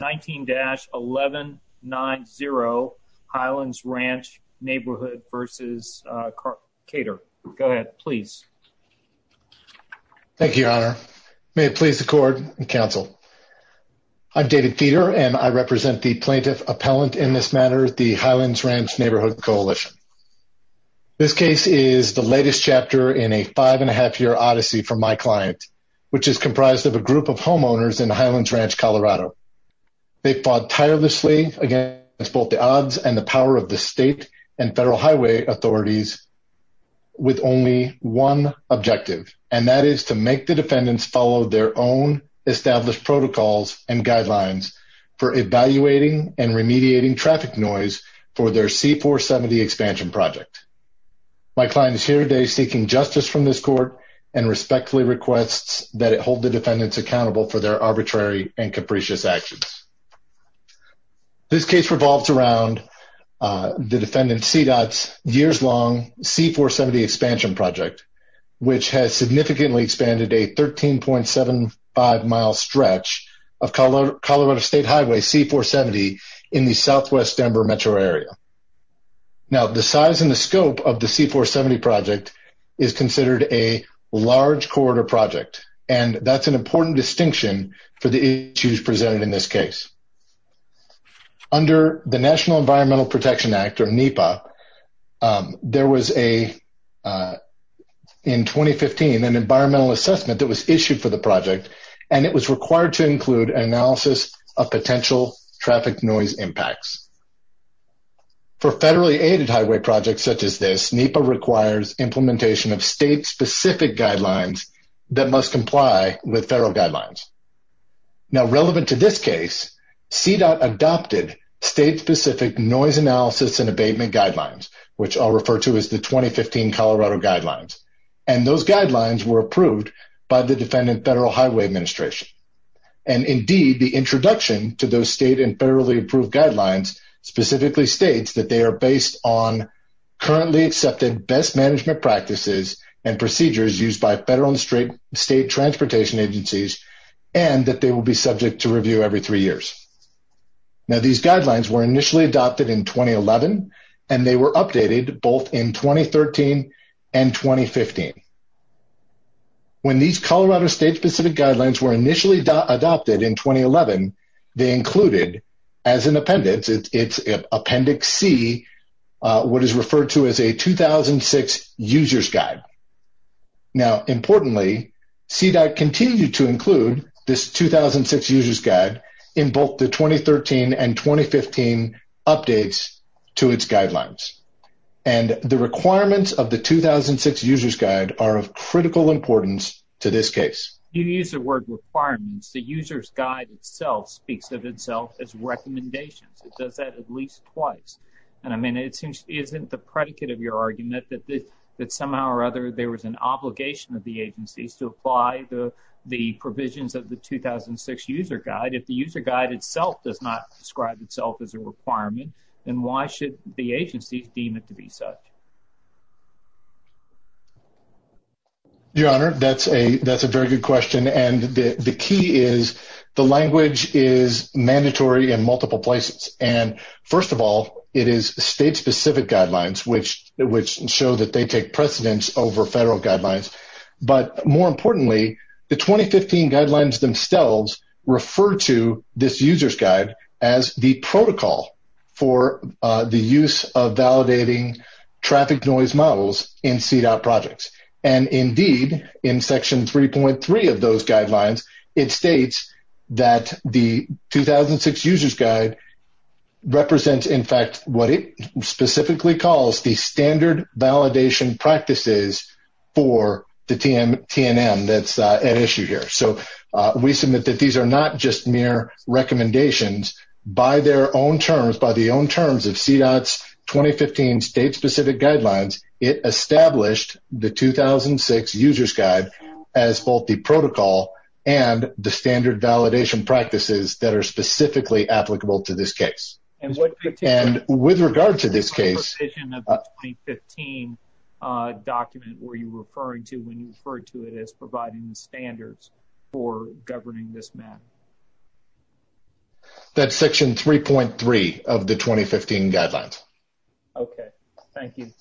19-1190 Highlands Ranch Neighborhood v. Cater. Go ahead, please. Thank you, Your Honor. May it please the court and counsel, I'm David Feeder, and I represent the plaintiff appellant in this matter, the Highlands Ranch Neighborhood Coalition. This case is the latest chapter in a five and a half year odyssey for my client, which is comprised of a group of homeowners in Highlands Ranch, Colorado. They fought tirelessly against both the odds and the power of the state and federal highway authorities with only one objective, and that is to make the defendants follow their own established protocols and guidelines for evaluating and remediating traffic noise for their C-470 expansion project. My client is here today seeking justice from this court and respectfully requests that it hold the defendants accountable for their arbitrary and capricious actions. This case revolves around the defendant CDOT's years long C-470 expansion project, which has significantly expanded a 13.75 mile stretch of Colorado State Highway C-470 in the southwest Denver metro area. Now, the size and the scope of the C-470 project is considered a large corridor project, and that's an important distinction for the issues presented in this case. Under the National Environmental Protection Act, or NEPA, there was in 2015 an environmental assessment that was issued for the project, and it was required to include an analysis of potential traffic noise impacts. For federally aided highway projects such as this, NEPA requires implementation of state-specific guidelines that must comply with federal guidelines. Now, relevant to this case, CDOT adopted state-specific noise analysis and abatement guidelines, which I'll refer to as the 2015 Colorado Guidelines. And those guidelines were approved by the defendant Federal Highway Administration. And indeed, the introduction to those state and federally approved guidelines specifically states that they are based on currently accepted best management practices and procedures used by federal and state transportation agencies, and that they will be subject to review every three years. Now, these guidelines were initially adopted in 2011, and they were updated both in 2013 and 2015. When these Colorado state-specific guidelines were initially adopted in 2011, they what is referred to as a 2006 user's guide. Now, importantly, CDOT continued to include this 2006 user's guide in both the 2013 and 2015 updates to its guidelines. And the requirements of the 2006 user's guide are of critical importance to this case. You use the word requirements. The user's guide itself speaks of itself as recommendations. It does that at least twice. And I mean, it seems isn't the predicate of your argument that somehow or other there was an obligation of the agencies to apply the provisions of the 2006 user's guide. If the user's guide itself does not describe itself as a requirement, then why should the agencies deem it to be such? Your Honor, that's a very good question. And the key is the language is mandatory in multiple places. First of all, it is state-specific guidelines, which show that they take precedence over federal guidelines. But more importantly, the 2015 guidelines themselves refer to this user's guide as the protocol for the use of validating traffic noise models in CDOT projects. And indeed, in section 3.3 of those guidelines, it states that the 2006 user's guide represents, in fact, what it specifically calls the standard validation practices for the TNM that's at issue here. So we submit that these are not just mere recommendations. By their own terms, by the own terms of CDOT's 2015 state-specific guidelines, it established the 2006 user's protocol and the standard validation practices that are specifically applicable to this case. And with regard to this case, that's section 3.3 of the 2015 guidelines. OK, thank you.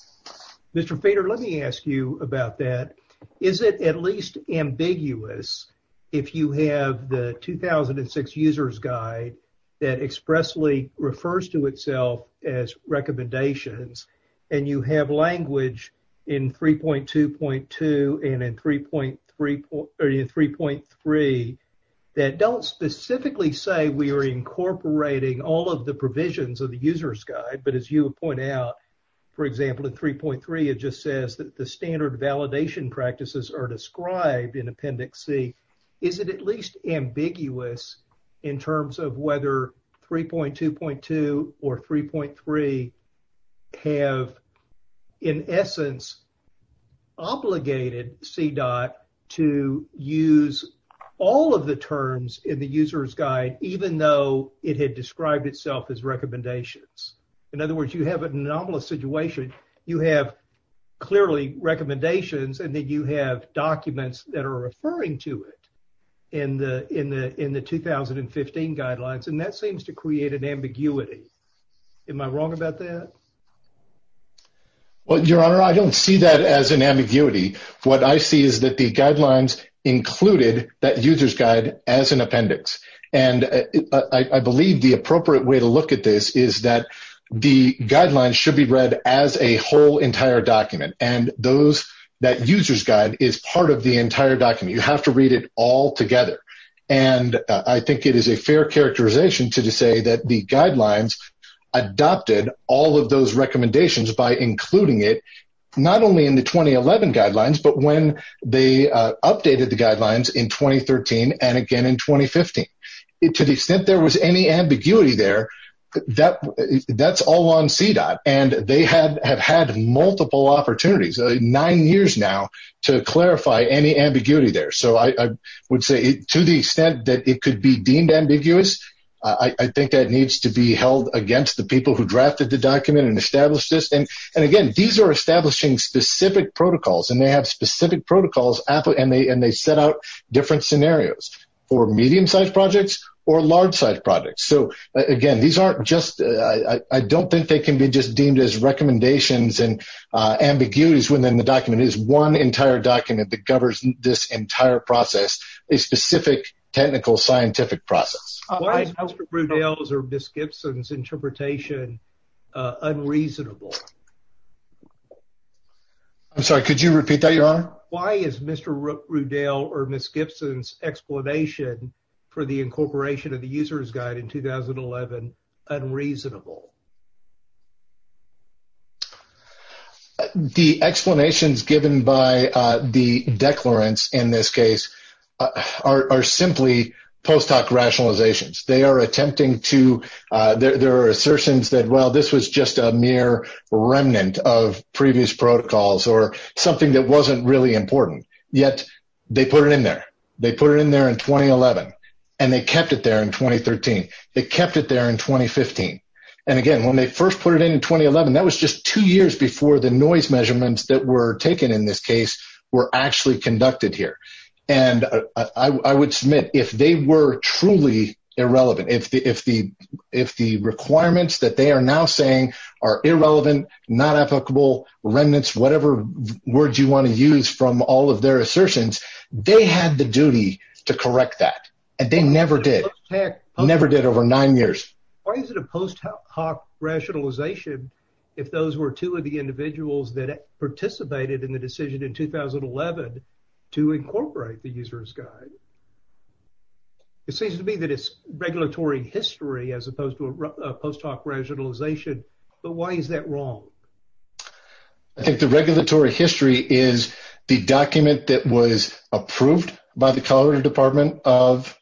Mr. Feder, let me ask you about that. Is it at least ambiguous if you have the 2006 user's guide that expressly refers to itself as recommendations and you have language in 3.2.2 and in 3.3 that don't specifically say we are incorporating all of the provisions of the user's guide, but as you point out, for example, in 3.3, it just says that the standard validation practices are described in Appendix C. Is it at least ambiguous in terms of whether 3.2.2 or 3.3 have, in essence, obligated CDOT to use all of the terms in the user's guide, even though it had described itself as recommendations? In other words, you have an anomalous situation. You have clearly recommendations and then you have documents that are referring to it in the 2015 guidelines. And that seems to create an ambiguity. Am I wrong about that? Well, Your Honor, I don't see that as an ambiguity. What I see is that the guidelines included that user's guide as an appendix. And I believe the appropriate way to look at this is that the guidelines should be read as a whole entire document. And that user's guide is part of the entire document. You have to read it all together. And I think it is a fair characterization to say that the guidelines adopted all of those recommendations by including it not only in the 2011 guidelines, but when they updated the guidelines in 2013 and again in 2015. To the extent there was any ambiguity there, that's all on CDOT. And they have had multiple opportunities, nine years now, to clarify any ambiguity there. So I would say to the extent that it could be deemed ambiguous, I think that needs to be held against the people who drafted the document and established this. And again, these are establishing specific protocols. And they have specific protocols. And they set out different scenarios for medium-sized projects or large-sized projects. So again, these aren't just, I don't think they can be just deemed as recommendations and ambiguities within the document. It is one entire document that governs this entire process, a specific technical scientific process. Why is Mr. Rudell's or Ms. Gibson's interpretation unreasonable? I'm sorry, could you repeat that, Your Honor? Why is Mr. Rudell or Ms. Gibson's explanation for the incorporation of the User's Guide in 2011 unreasonable? The explanations given by the declarants in this case are simply post-hoc rationalizations. They are attempting to, there are assertions that, well, this was just a mere remnant of previous protocols or something that wasn't really important. Yet, they put it in there. They put it in there in 2011. And they kept it there in 2013. They kept it there in 2015. And again, when they first put it in in 2011, that was just two years before the noise measurements that were taken in this case were actually conducted here. And I would submit, if they were truly irrelevant, if the requirements that they are now saying are irrelevant, not applicable, remnants, whatever words you want to use from all of their assertions, they had the duty to correct that. And they never did. Never did over nine years. Why is it a post-hoc rationalization if those were two of the individuals that participated in the decision in 2011 to incorporate the User's Guide? It seems to me that it's regulatory history as opposed to a post-hoc rationalization. But why is that wrong? I think the regulatory history is the document that was approved by the Colorado Department of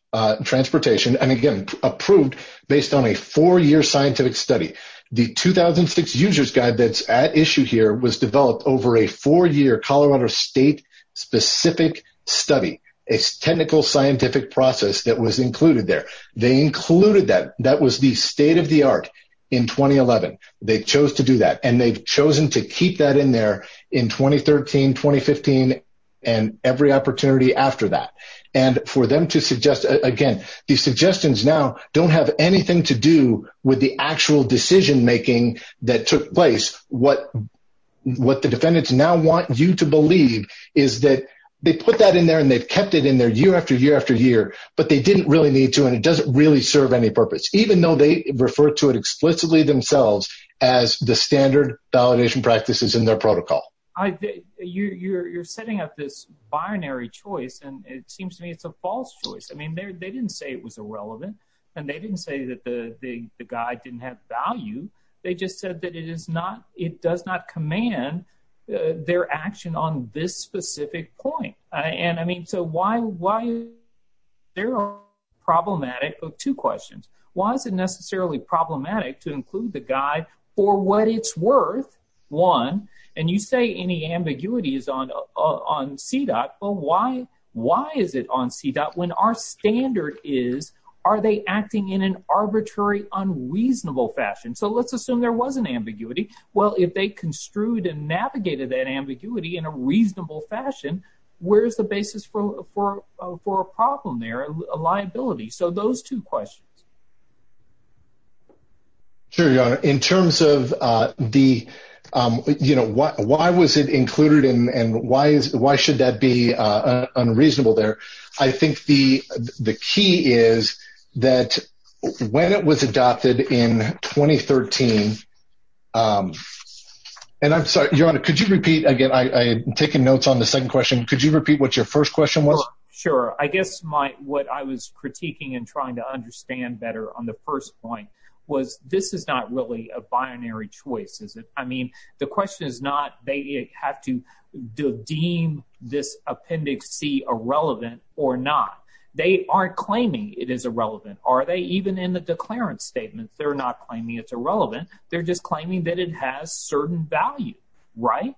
Transportation, and again, approved based on a four-year scientific study. The 2006 User's Guide that's at issue here was developed over a four-year Colorado state-specific study, a technical scientific process that was included there. They included that. That was the state-of-the-art in 2011. They chose to do that. And they've chosen to keep that in there in 2013, 2015, and every opportunity after that. And for them to suggest, again, these suggestions now don't have anything to do with the actual decision-making that took place. What the defendants now want you to believe is that they put that in there and they've kept it in there year after year after year, but they didn't really need to, and it doesn't really serve any purpose, even though they refer to it explicitly themselves as the standard validation practices in their protocol. You're setting up this binary choice, and it seems to me it's a false choice. I mean, they didn't say it was irrelevant, and they didn't say that the guide didn't have value. They just said that it does not command their action on this specific point. And I mean, so why is it problematic? Oh, two questions. Why is it necessarily problematic to include the guide for what it's worth, one, and you say any ambiguity is on CDOT, but why is it on CDOT when our standard is, are they acting in an arbitrary, unreasonable fashion? So let's assume there was an ambiguity. Well, if they construed and navigated that ambiguity in a reasonable fashion, where's the basis for a problem there, a liability? So those two questions. Sure, Your Honor. In terms of the, you know, why was it included and why should that be unreasonable there? I think the key is that when it was adopted in 2013, and I'm sorry, Your Honor, could you repeat, again, I'm taking notes on the second question. Could you repeat what your first question was? Sure. I guess what I was critiquing and trying to understand better on the first point was this is not really a binary choice, is it? I mean, the question is not, they have to deem this appendix C irrelevant or not. They aren't claiming it is irrelevant. Are they, even in the declarant statement, they're not claiming it's irrelevant. They're just claiming that it has certain value, right?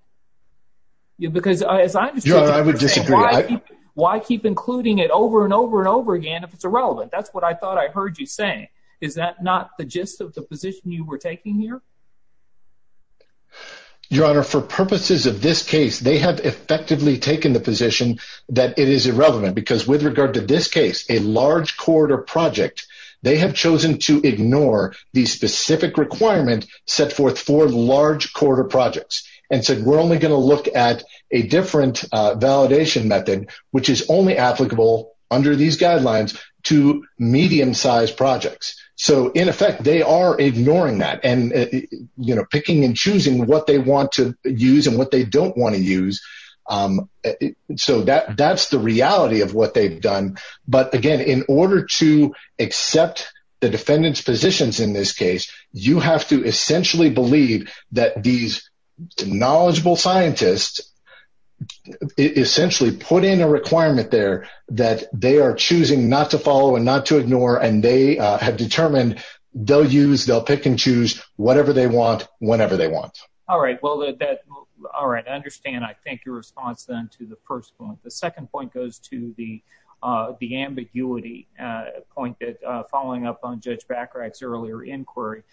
Yeah, because as I understand it- Your Honor, I would disagree. Why keep including it over and over and over again if it's irrelevant? That's what I thought I heard you saying. Is that not the gist of the position you were taking here? Your Honor, for purposes of this case, they have effectively taken the position that it is irrelevant because with regard to this case, a large corridor project, they have chosen to ignore the specific requirement set forth for large corridor projects and said, we're only gonna look at a different validation method, which is only applicable under these guidelines to medium-sized projects. So in effect, they are ignoring that and picking and choosing what they want to use and what they don't wanna use. So that's the reality of what they've done. But again, in order to accept the defendant's positions in this case, you have to essentially believe that these knowledgeable scientists essentially put in a requirement there that they are choosing not to follow and not to ignore, and they have determined they'll use, they'll pick and choose whatever they want, whenever they want. All right, well, all right, I understand. I thank your response then to the first point. The second point goes to the ambiguity point that following up on Judge Bacharach's earlier inquiry.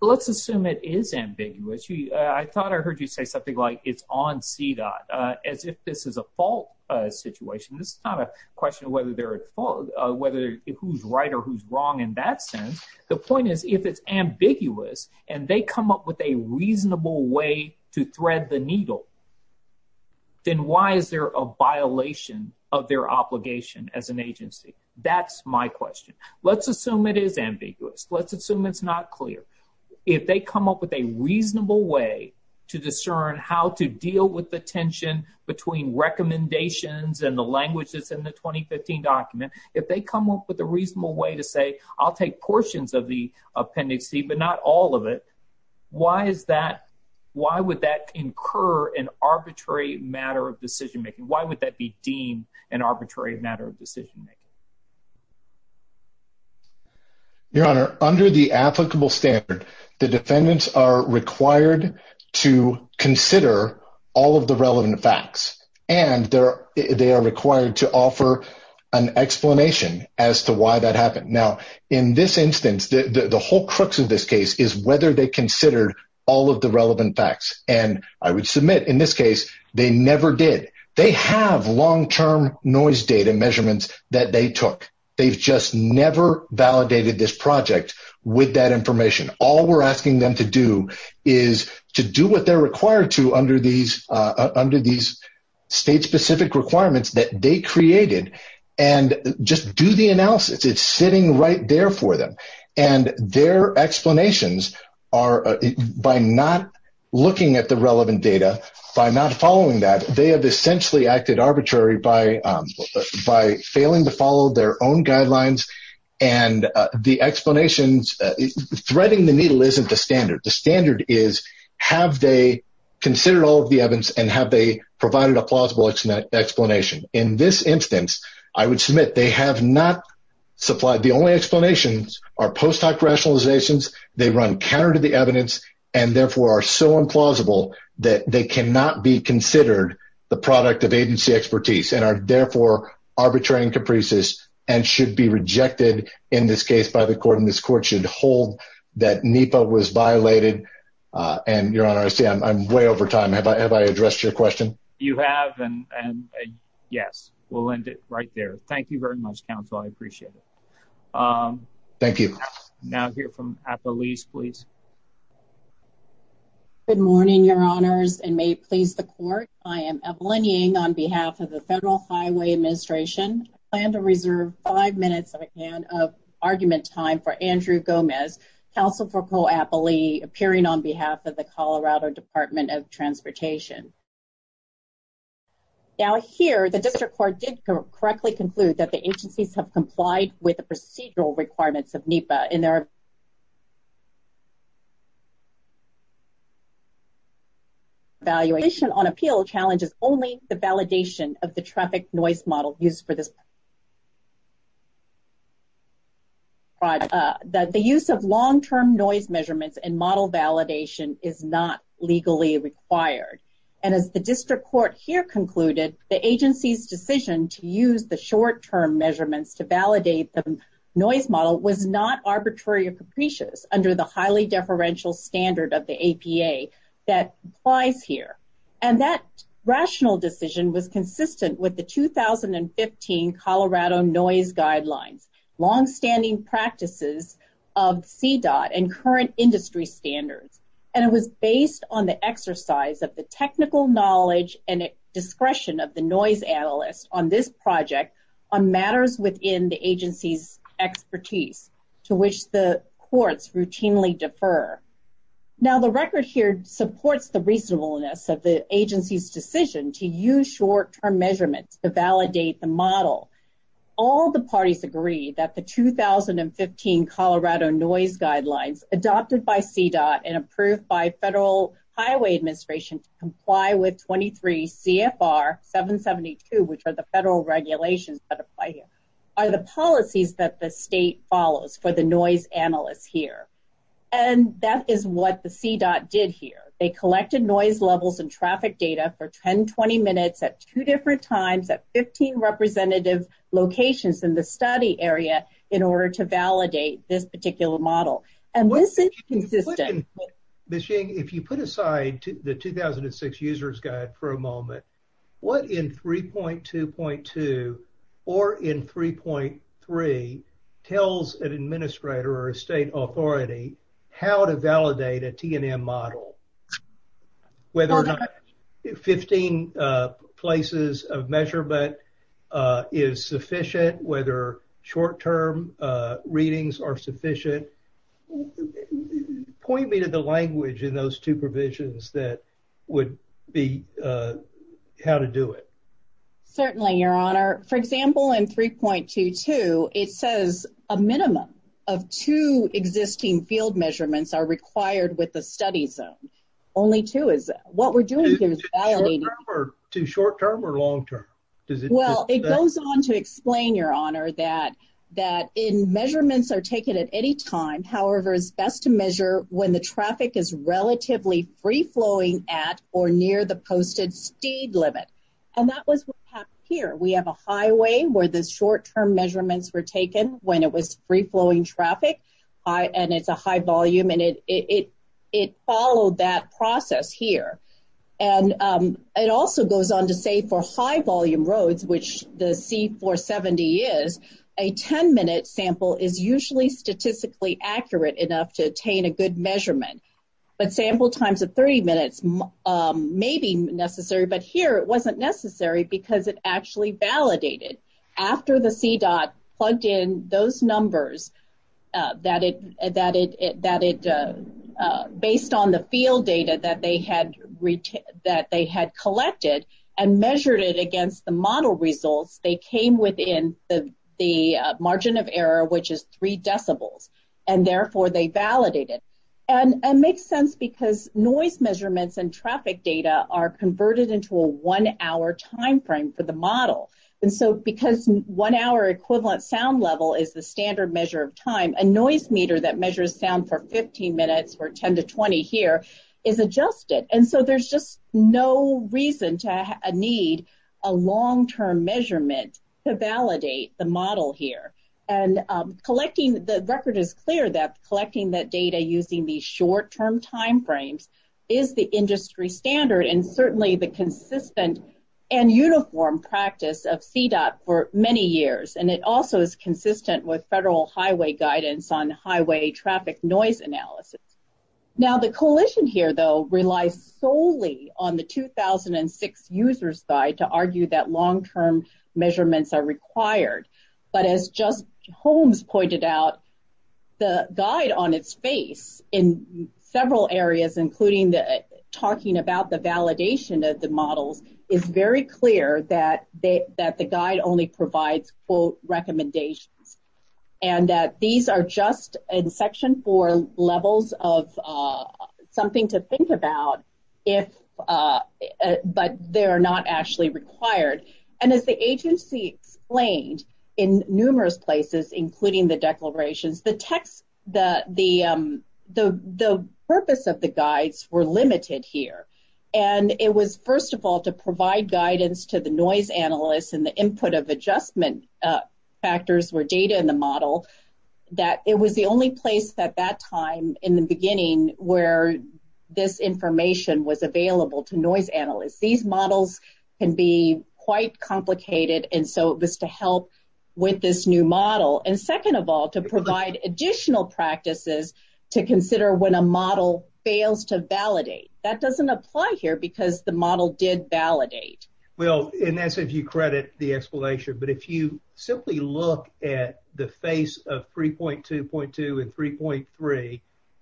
Let's assume it is ambiguous. I thought I heard you say something like it's on CDOT as if this is a fault situation. This is not a question of whether who's right or who's wrong in that sense. The point is if it's ambiguous and they come up with a reasonable way to thread the needle, then why is there a violation of their obligation as an agency? That's my question. Let's assume it is ambiguous. Let's assume it's not clear. If they come up with a reasonable way to discern how to deal with the tension between recommendations and the languages in the 2015 document, if they come up with a reasonable way to say, I'll take portions of the appendix C, but not all of it, why is that, why would that incur an arbitrary matter of decision-making? Why would that be deemed an arbitrary matter of decision-making? Your Honor, under the applicable standard, the defendants are required to consider all of the relevant facts and they are required to offer an explanation as to why that happened. Now, in this instance, the whole crux of this case is whether they considered all of the relevant facts. And I would submit in this case, they never did. They have long-term noise data measurements that they took. They've just never validated this project with that information. All we're asking them to do is to do what they're required to under these state-specific requirements that they created and just do the analysis. It's sitting right there for them. And their explanations are by not looking at the relevant data, by not following that, they have essentially acted arbitrary by failing to follow their own guidelines. And the explanations, threading the needle isn't the standard. The standard is, have they considered all of the evidence and have they provided a plausible explanation? In this instance, I would submit they have not supplied. The only explanations are post-hoc rationalizations. They run counter to the evidence and therefore are so implausible that they cannot be considered the product of agency expertise and are therefore arbitrary and capricious and should be rejected in this case by the court. And this court should hold that NEPA was violated. And Your Honor, I see I'm way over time. Have I addressed your question? You have, and yes, we'll end it right there. Thank you very much, counsel. I appreciate it. Thank you. Now hear from Appaluse, please. Good morning, Your Honors, and may it please the court. I am Evelyn Ying on behalf of the Federal Highway Administration. Plan to reserve five minutes, if I can, of argument time for Andrew Gomez, counsel for co-appellee appearing on behalf of the Colorado Department of Transportation. Now here, the district court did correctly conclude that the agencies have complied with the procedural requirements of NEPA in their evaluation on appeal challenges only the validation of the traffic noise model used for this. But the use of long-term noise measurements and model validation is not legally required. And as the district court here concluded, the agency's decision to use the short-term measurements to validate the noise model was not arbitrary or capricious under the highly deferential standard of the APA that applies here. And that rational decision was consistent with the 2015 Colorado noise guidelines, longstanding practices of CDOT and current industry standards. And it was based on the exercise of the technical knowledge and discretion of the noise analyst on this project on matters within the agency's expertise to which the courts routinely defer. Now, the record here supports the reasonableness to validate the model. All the parties agree that the 2015 Colorado noise guidelines adopted by CDOT and approved by Federal Highway Administration to comply with 23 CFR 772, which are the federal regulations that apply here are the policies that the state follows for the noise analysts here. And that is what the CDOT did here. They collected noise levels and traffic data for 10, 20 minutes at two different times at 15 representative locations in the study area in order to validate this particular model. And this is consistent. Ms. Jing, if you put aside the 2006 user's guide for a moment, what in 3.2.2 or in 3.3 tells an administrator or a state authority how to validate a TNM model? Whether or not 15 places of measurement is sufficient, whether short-term readings are sufficient. Point me to the language in those two provisions that would be how to do it. Certainly, Your Honor. For example, in 3.2.2, it says a minimum of two existing field measurements are required with the study zone. Only two is, what we're doing here is validating. To short-term or long-term? Well, it goes on to explain, Your Honor, that in measurements are taken at any time. However, it's best to measure when the traffic is relatively free-flowing at or near the posted speed limit. And that was what happened here. We have a highway where the short-term measurements were taken when it was free-flowing traffic, and it's a high volume, and it followed that process here. And it also goes on to say for high-volume roads, which the C-470 is, a 10-minute sample is usually statistically accurate enough to attain a good measurement. But sample times of 30 minutes may be necessary, but here it wasn't necessary because it actually validated. After the CDOT plugged in those numbers, based on the field data that they had collected and measured it against the model results, they came within the margin of error, which is three decibels, and therefore they validated. And it makes sense because noise measurements and traffic data are converted into a one-hour timeframe for the model. And so because one-hour equivalent sound level is the standard measure of time, a noise meter that measures sound for 15 minutes or 10 to 20 here is adjusted. And so there's just no reason to need a long-term measurement to validate the model here. And the record is clear that collecting that data using these short-term timeframes is the industry standard, and certainly the consistent and uniform practice of CDOT for many years. And it also is consistent with federal highway guidance on highway traffic noise analysis. Now, the coalition here, though, relies solely on the 2006 user's guide to argue that long-term measurements are required. But as just Holmes pointed out, the guide on its face in several areas, including talking about the validation of the models, is very clear that the guide only provides, quote, recommendations, and that these are just in section four levels of something to think about, but they're not actually required. And as the agency explained in numerous places, including the declarations, the purpose of the guides were limited here. And it was, first of all, to provide guidance to the noise analysts and the input of adjustment factors, where data in the model, that it was the only place at that time in the beginning where this information was available to noise analysts. These models can be quite complicated, and so it was to help with this new model. And second of all, to provide additional practices to consider when a model fails to validate. That doesn't apply here because the model did validate. Well, and that's if you credit the explanation, but if you simply look at the face of 3.2.2 and 3.3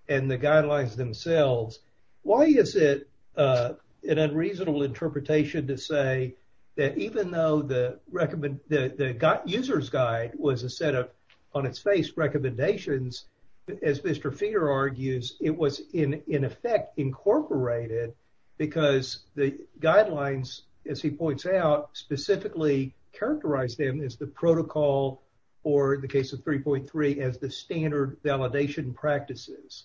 and the guidelines themselves, why is it an unreasonable interpretation to say that even though the user's guide was a set of on its face recommendations, as Mr. Feeder argues, it was in effect incorporated because the guidelines, as he points out, specifically characterize them as the protocol or the case of 3.3 as the standard validation practices.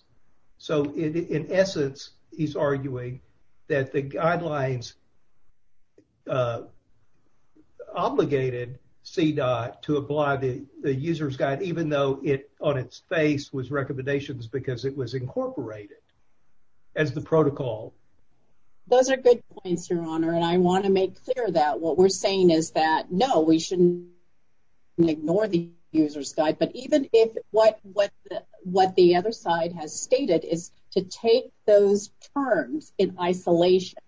So in essence, he's arguing that the guidelines obligated CDOT to apply the user's guide, even though it on its face was recommendations because it was incorporated as the protocol. Those are good points, your honor. And I want to make clear that what we're saying is that, no, we shouldn't ignore the user's guide, but even if what the other side has stated is to take those terms in isolation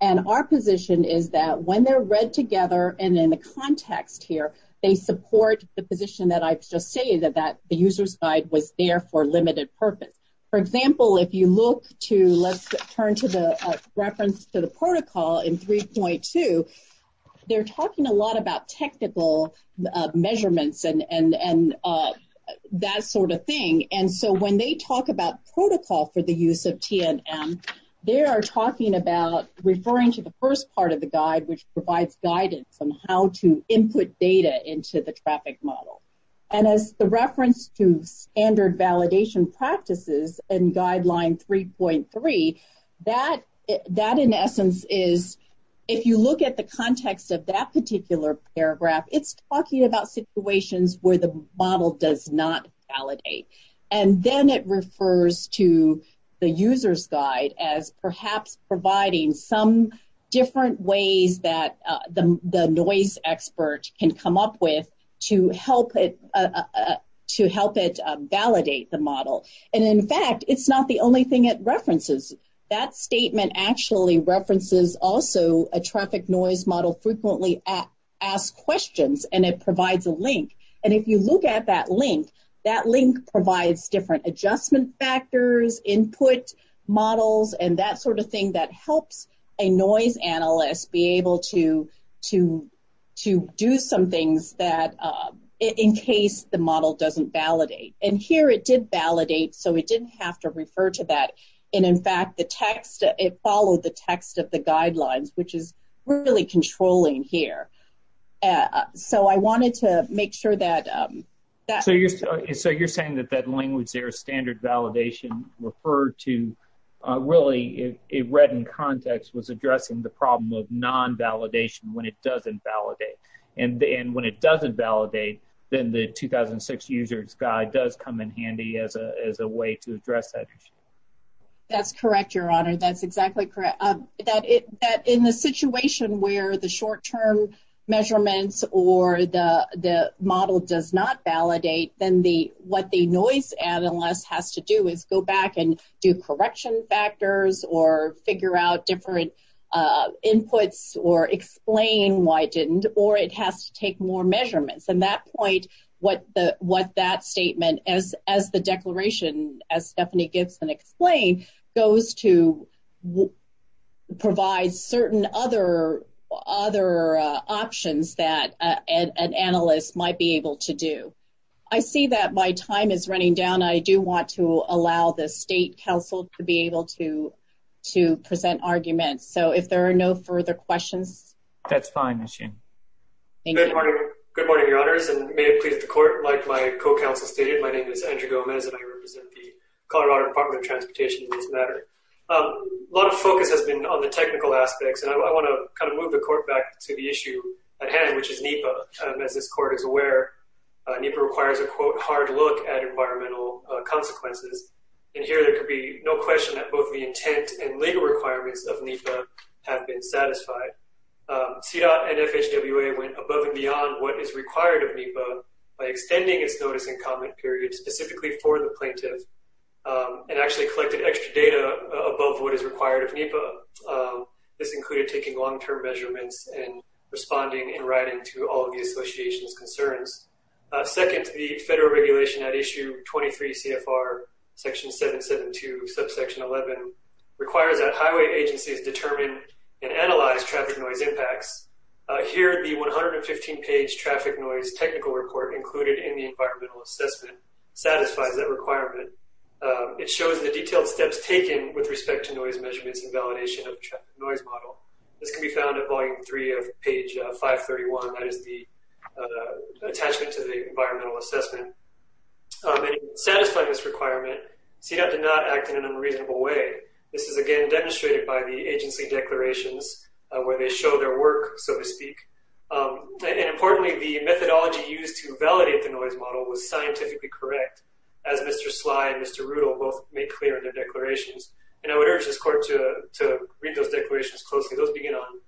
and our position is that when they're read together and in the context here, they support the position that I've just stated that the user's guide was there for limited purpose. For example, if you look to, let's turn to the reference to the protocol in 3.2, they're talking a lot about technical measurements and that sort of thing. And so when they talk about protocol for the use of TNM, they are talking about referring to the first part of the guide, which provides guidance on how to input data into the traffic model. And as the reference to standard validation practices in guideline 3.3, that in essence is, if you look at the context of that particular paragraph, it's talking about situations where the model does not validate. And then it refers to the user's guide as perhaps providing some different ways that the noise expert can come up with to help it validate the model. And in fact, it's not the only thing it references. That statement actually references also a traffic noise model frequently asked questions and it provides a link. And if you look at that link, that link provides different adjustment factors, input models, and that sort of thing that helps a noise analyst be able to do some things that in case the model doesn't validate. And here it did validate, so it didn't have to refer to that. And in fact, the text, it followed the text of the guidelines, which is really controlling here. So I wanted to make sure that- So you're saying that that language there, standard validation referred to, really it read in context, was addressing the problem of non-validation when it doesn't validate. And when it doesn't validate, then the 2006 user's guide does come in handy as a way to address that issue. That's correct, Your Honor. That's exactly correct. That in the situation where the short-term measurements or the model does not validate, then what the noise analyst has to do is go back and do correction factors or figure out different inputs or explain why it didn't, or it has to take more measurements. And that point, what that statement, as the declaration, as Stephanie Gibson explained, goes to provide certain other options that an analyst might be able to do. I see that my time is running down. I do want to allow the State Council to be able to present arguments. So if there are no further questions- That's fine, Ms. Shin. Thank you. Good morning, Your Honors, and may it please the Court, like my co-counsel stated, my name is Andrew Gomez and I represent the Colorado Department of Transportation in this matter. A lot of focus has been on the technical aspects, and I want to kind of move the Court back to the issue at hand, which is NEPA. As this Court is aware, NEPA requires a, quote, hard look at environmental consequences. And here there could be no question that both the intent and legal requirements of NEPA have been satisfied. CDOT and FHWA went above and beyond what is required of NEPA by extending its notice and comment period specifically for the plaintiff, and actually collected extra data above what is required of NEPA. This included taking long-term measurements and responding and writing to all of the association's concerns. Second, the federal regulation at issue 23 CFR, section 772, subsection 11, requires that highway agencies determine and analyze traffic noise impacts. Here, the 115-page traffic noise technical report included in the environmental assessment satisfies that requirement. It shows the detailed steps taken with respect to noise measurements and validation of the traffic noise model. This can be found at volume three of page 531. That is the attachment to the environmental assessment. And in satisfying this requirement, CDOT did not act in an unreasonable way. This is again demonstrated by the agency declarations where they show their work, so to speak. And importantly, the methodology used to validate the noise model was scientifically correct, as Mr. Sly and Mr. Rudl both made clear in their declarations. And I would urge this Court to read those declarations closely. Those begin on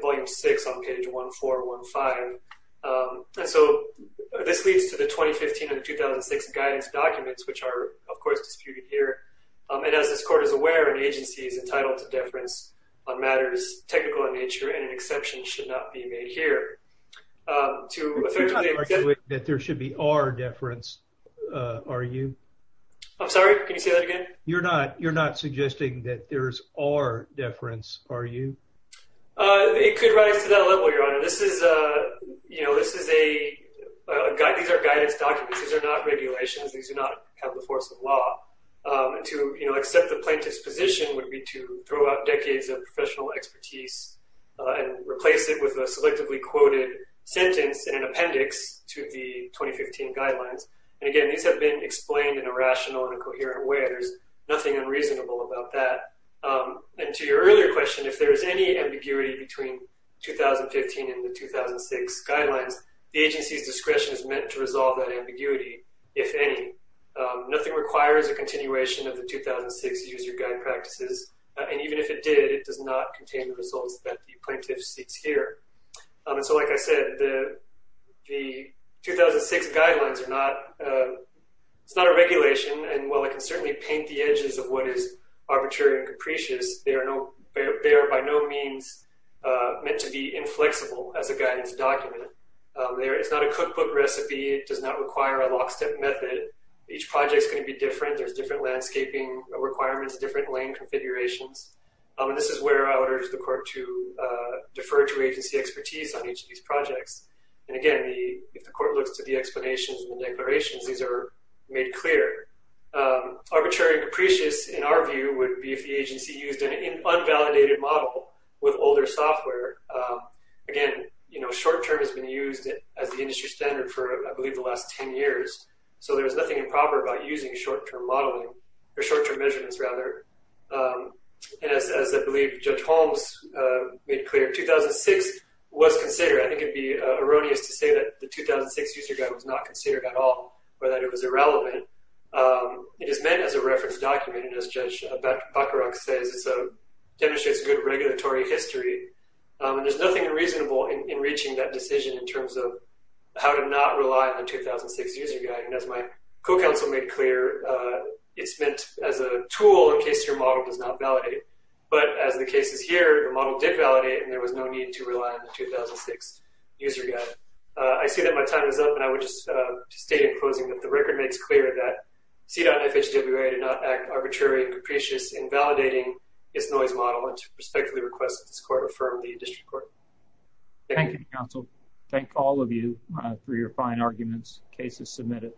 volume six on page 1415. And so this leads to the 2015 and 2006 guidance documents, which are, of course, disputed here. And as this Court is aware, an agency is entitled to deference on matters technical in nature, and an exception should not be made here. To effectively- You're not arguing that there should be our deference, are you? I'm sorry, can you say that again? You're not suggesting that there's our deference, are you? It could rise to that level, Your Honor. This is a, you know, this is a guide. These are guidance documents. These are not regulations. These do not have the force of law. To, you know, accept the plaintiff's position would be to throw out decades of professional expertise and replace it with a selectively quoted sentence and an appendix to the 2015 guidelines. And again, these have been explained in a rational and a coherent way. There's nothing unreasonable about that. And to your earlier question, if there is any ambiguity between 2015 and the 2006 guidelines, the agency's discretion is meant to resolve that ambiguity, if any. Nothing requires a continuation of the 2006 user guide practices. And even if it did, it does not contain the results that the plaintiff seeks here. And so, like I said, the 2006 guidelines are not, it's not a regulation. And while it can certainly paint the edges of what is arbitrary and capricious, they are by no means meant to be inflexible as a guidance document. It's not a cookbook recipe. It does not require a lockstep method. Each project's gonna be different. There's different landscaping requirements, different lane configurations. And this is where I would urge the court to defer to agency expertise on each of these projects. And again, if the court looks to the explanations and the declarations, these are made clear. Arbitrary and capricious, in our view, would be if the agency used an unvalidated model with older software. Again, short-term has been used as the industry standard for, I believe, the last 10 years. So there was nothing improper about using short-term modeling, or short-term measurements, rather. And as I believe Judge Holmes made clear, 2006 was considered. I think it'd be erroneous to say that the 2006 User Guide was not considered at all, or that it was irrelevant. It is meant as a reference document, and as Judge Bacharach says, it demonstrates good regulatory history. And there's nothing unreasonable in reaching that decision in terms of how to not rely on the 2006 User Guide. And as my co-counsel made clear, it's meant as a tool in case your model does not validate. But as the case is here, the model did validate, and there was no need to rely on the 2006 User Guide. I see that my time is up, and I would just state in closing that the record makes clear that CDOT and FHWA did not act arbitrary and capricious in validating its noise model, and to respectfully request that this Court affirm the District Court. Thank you. Thank you, counsel. Thank all of you for your fine arguments, cases submitted.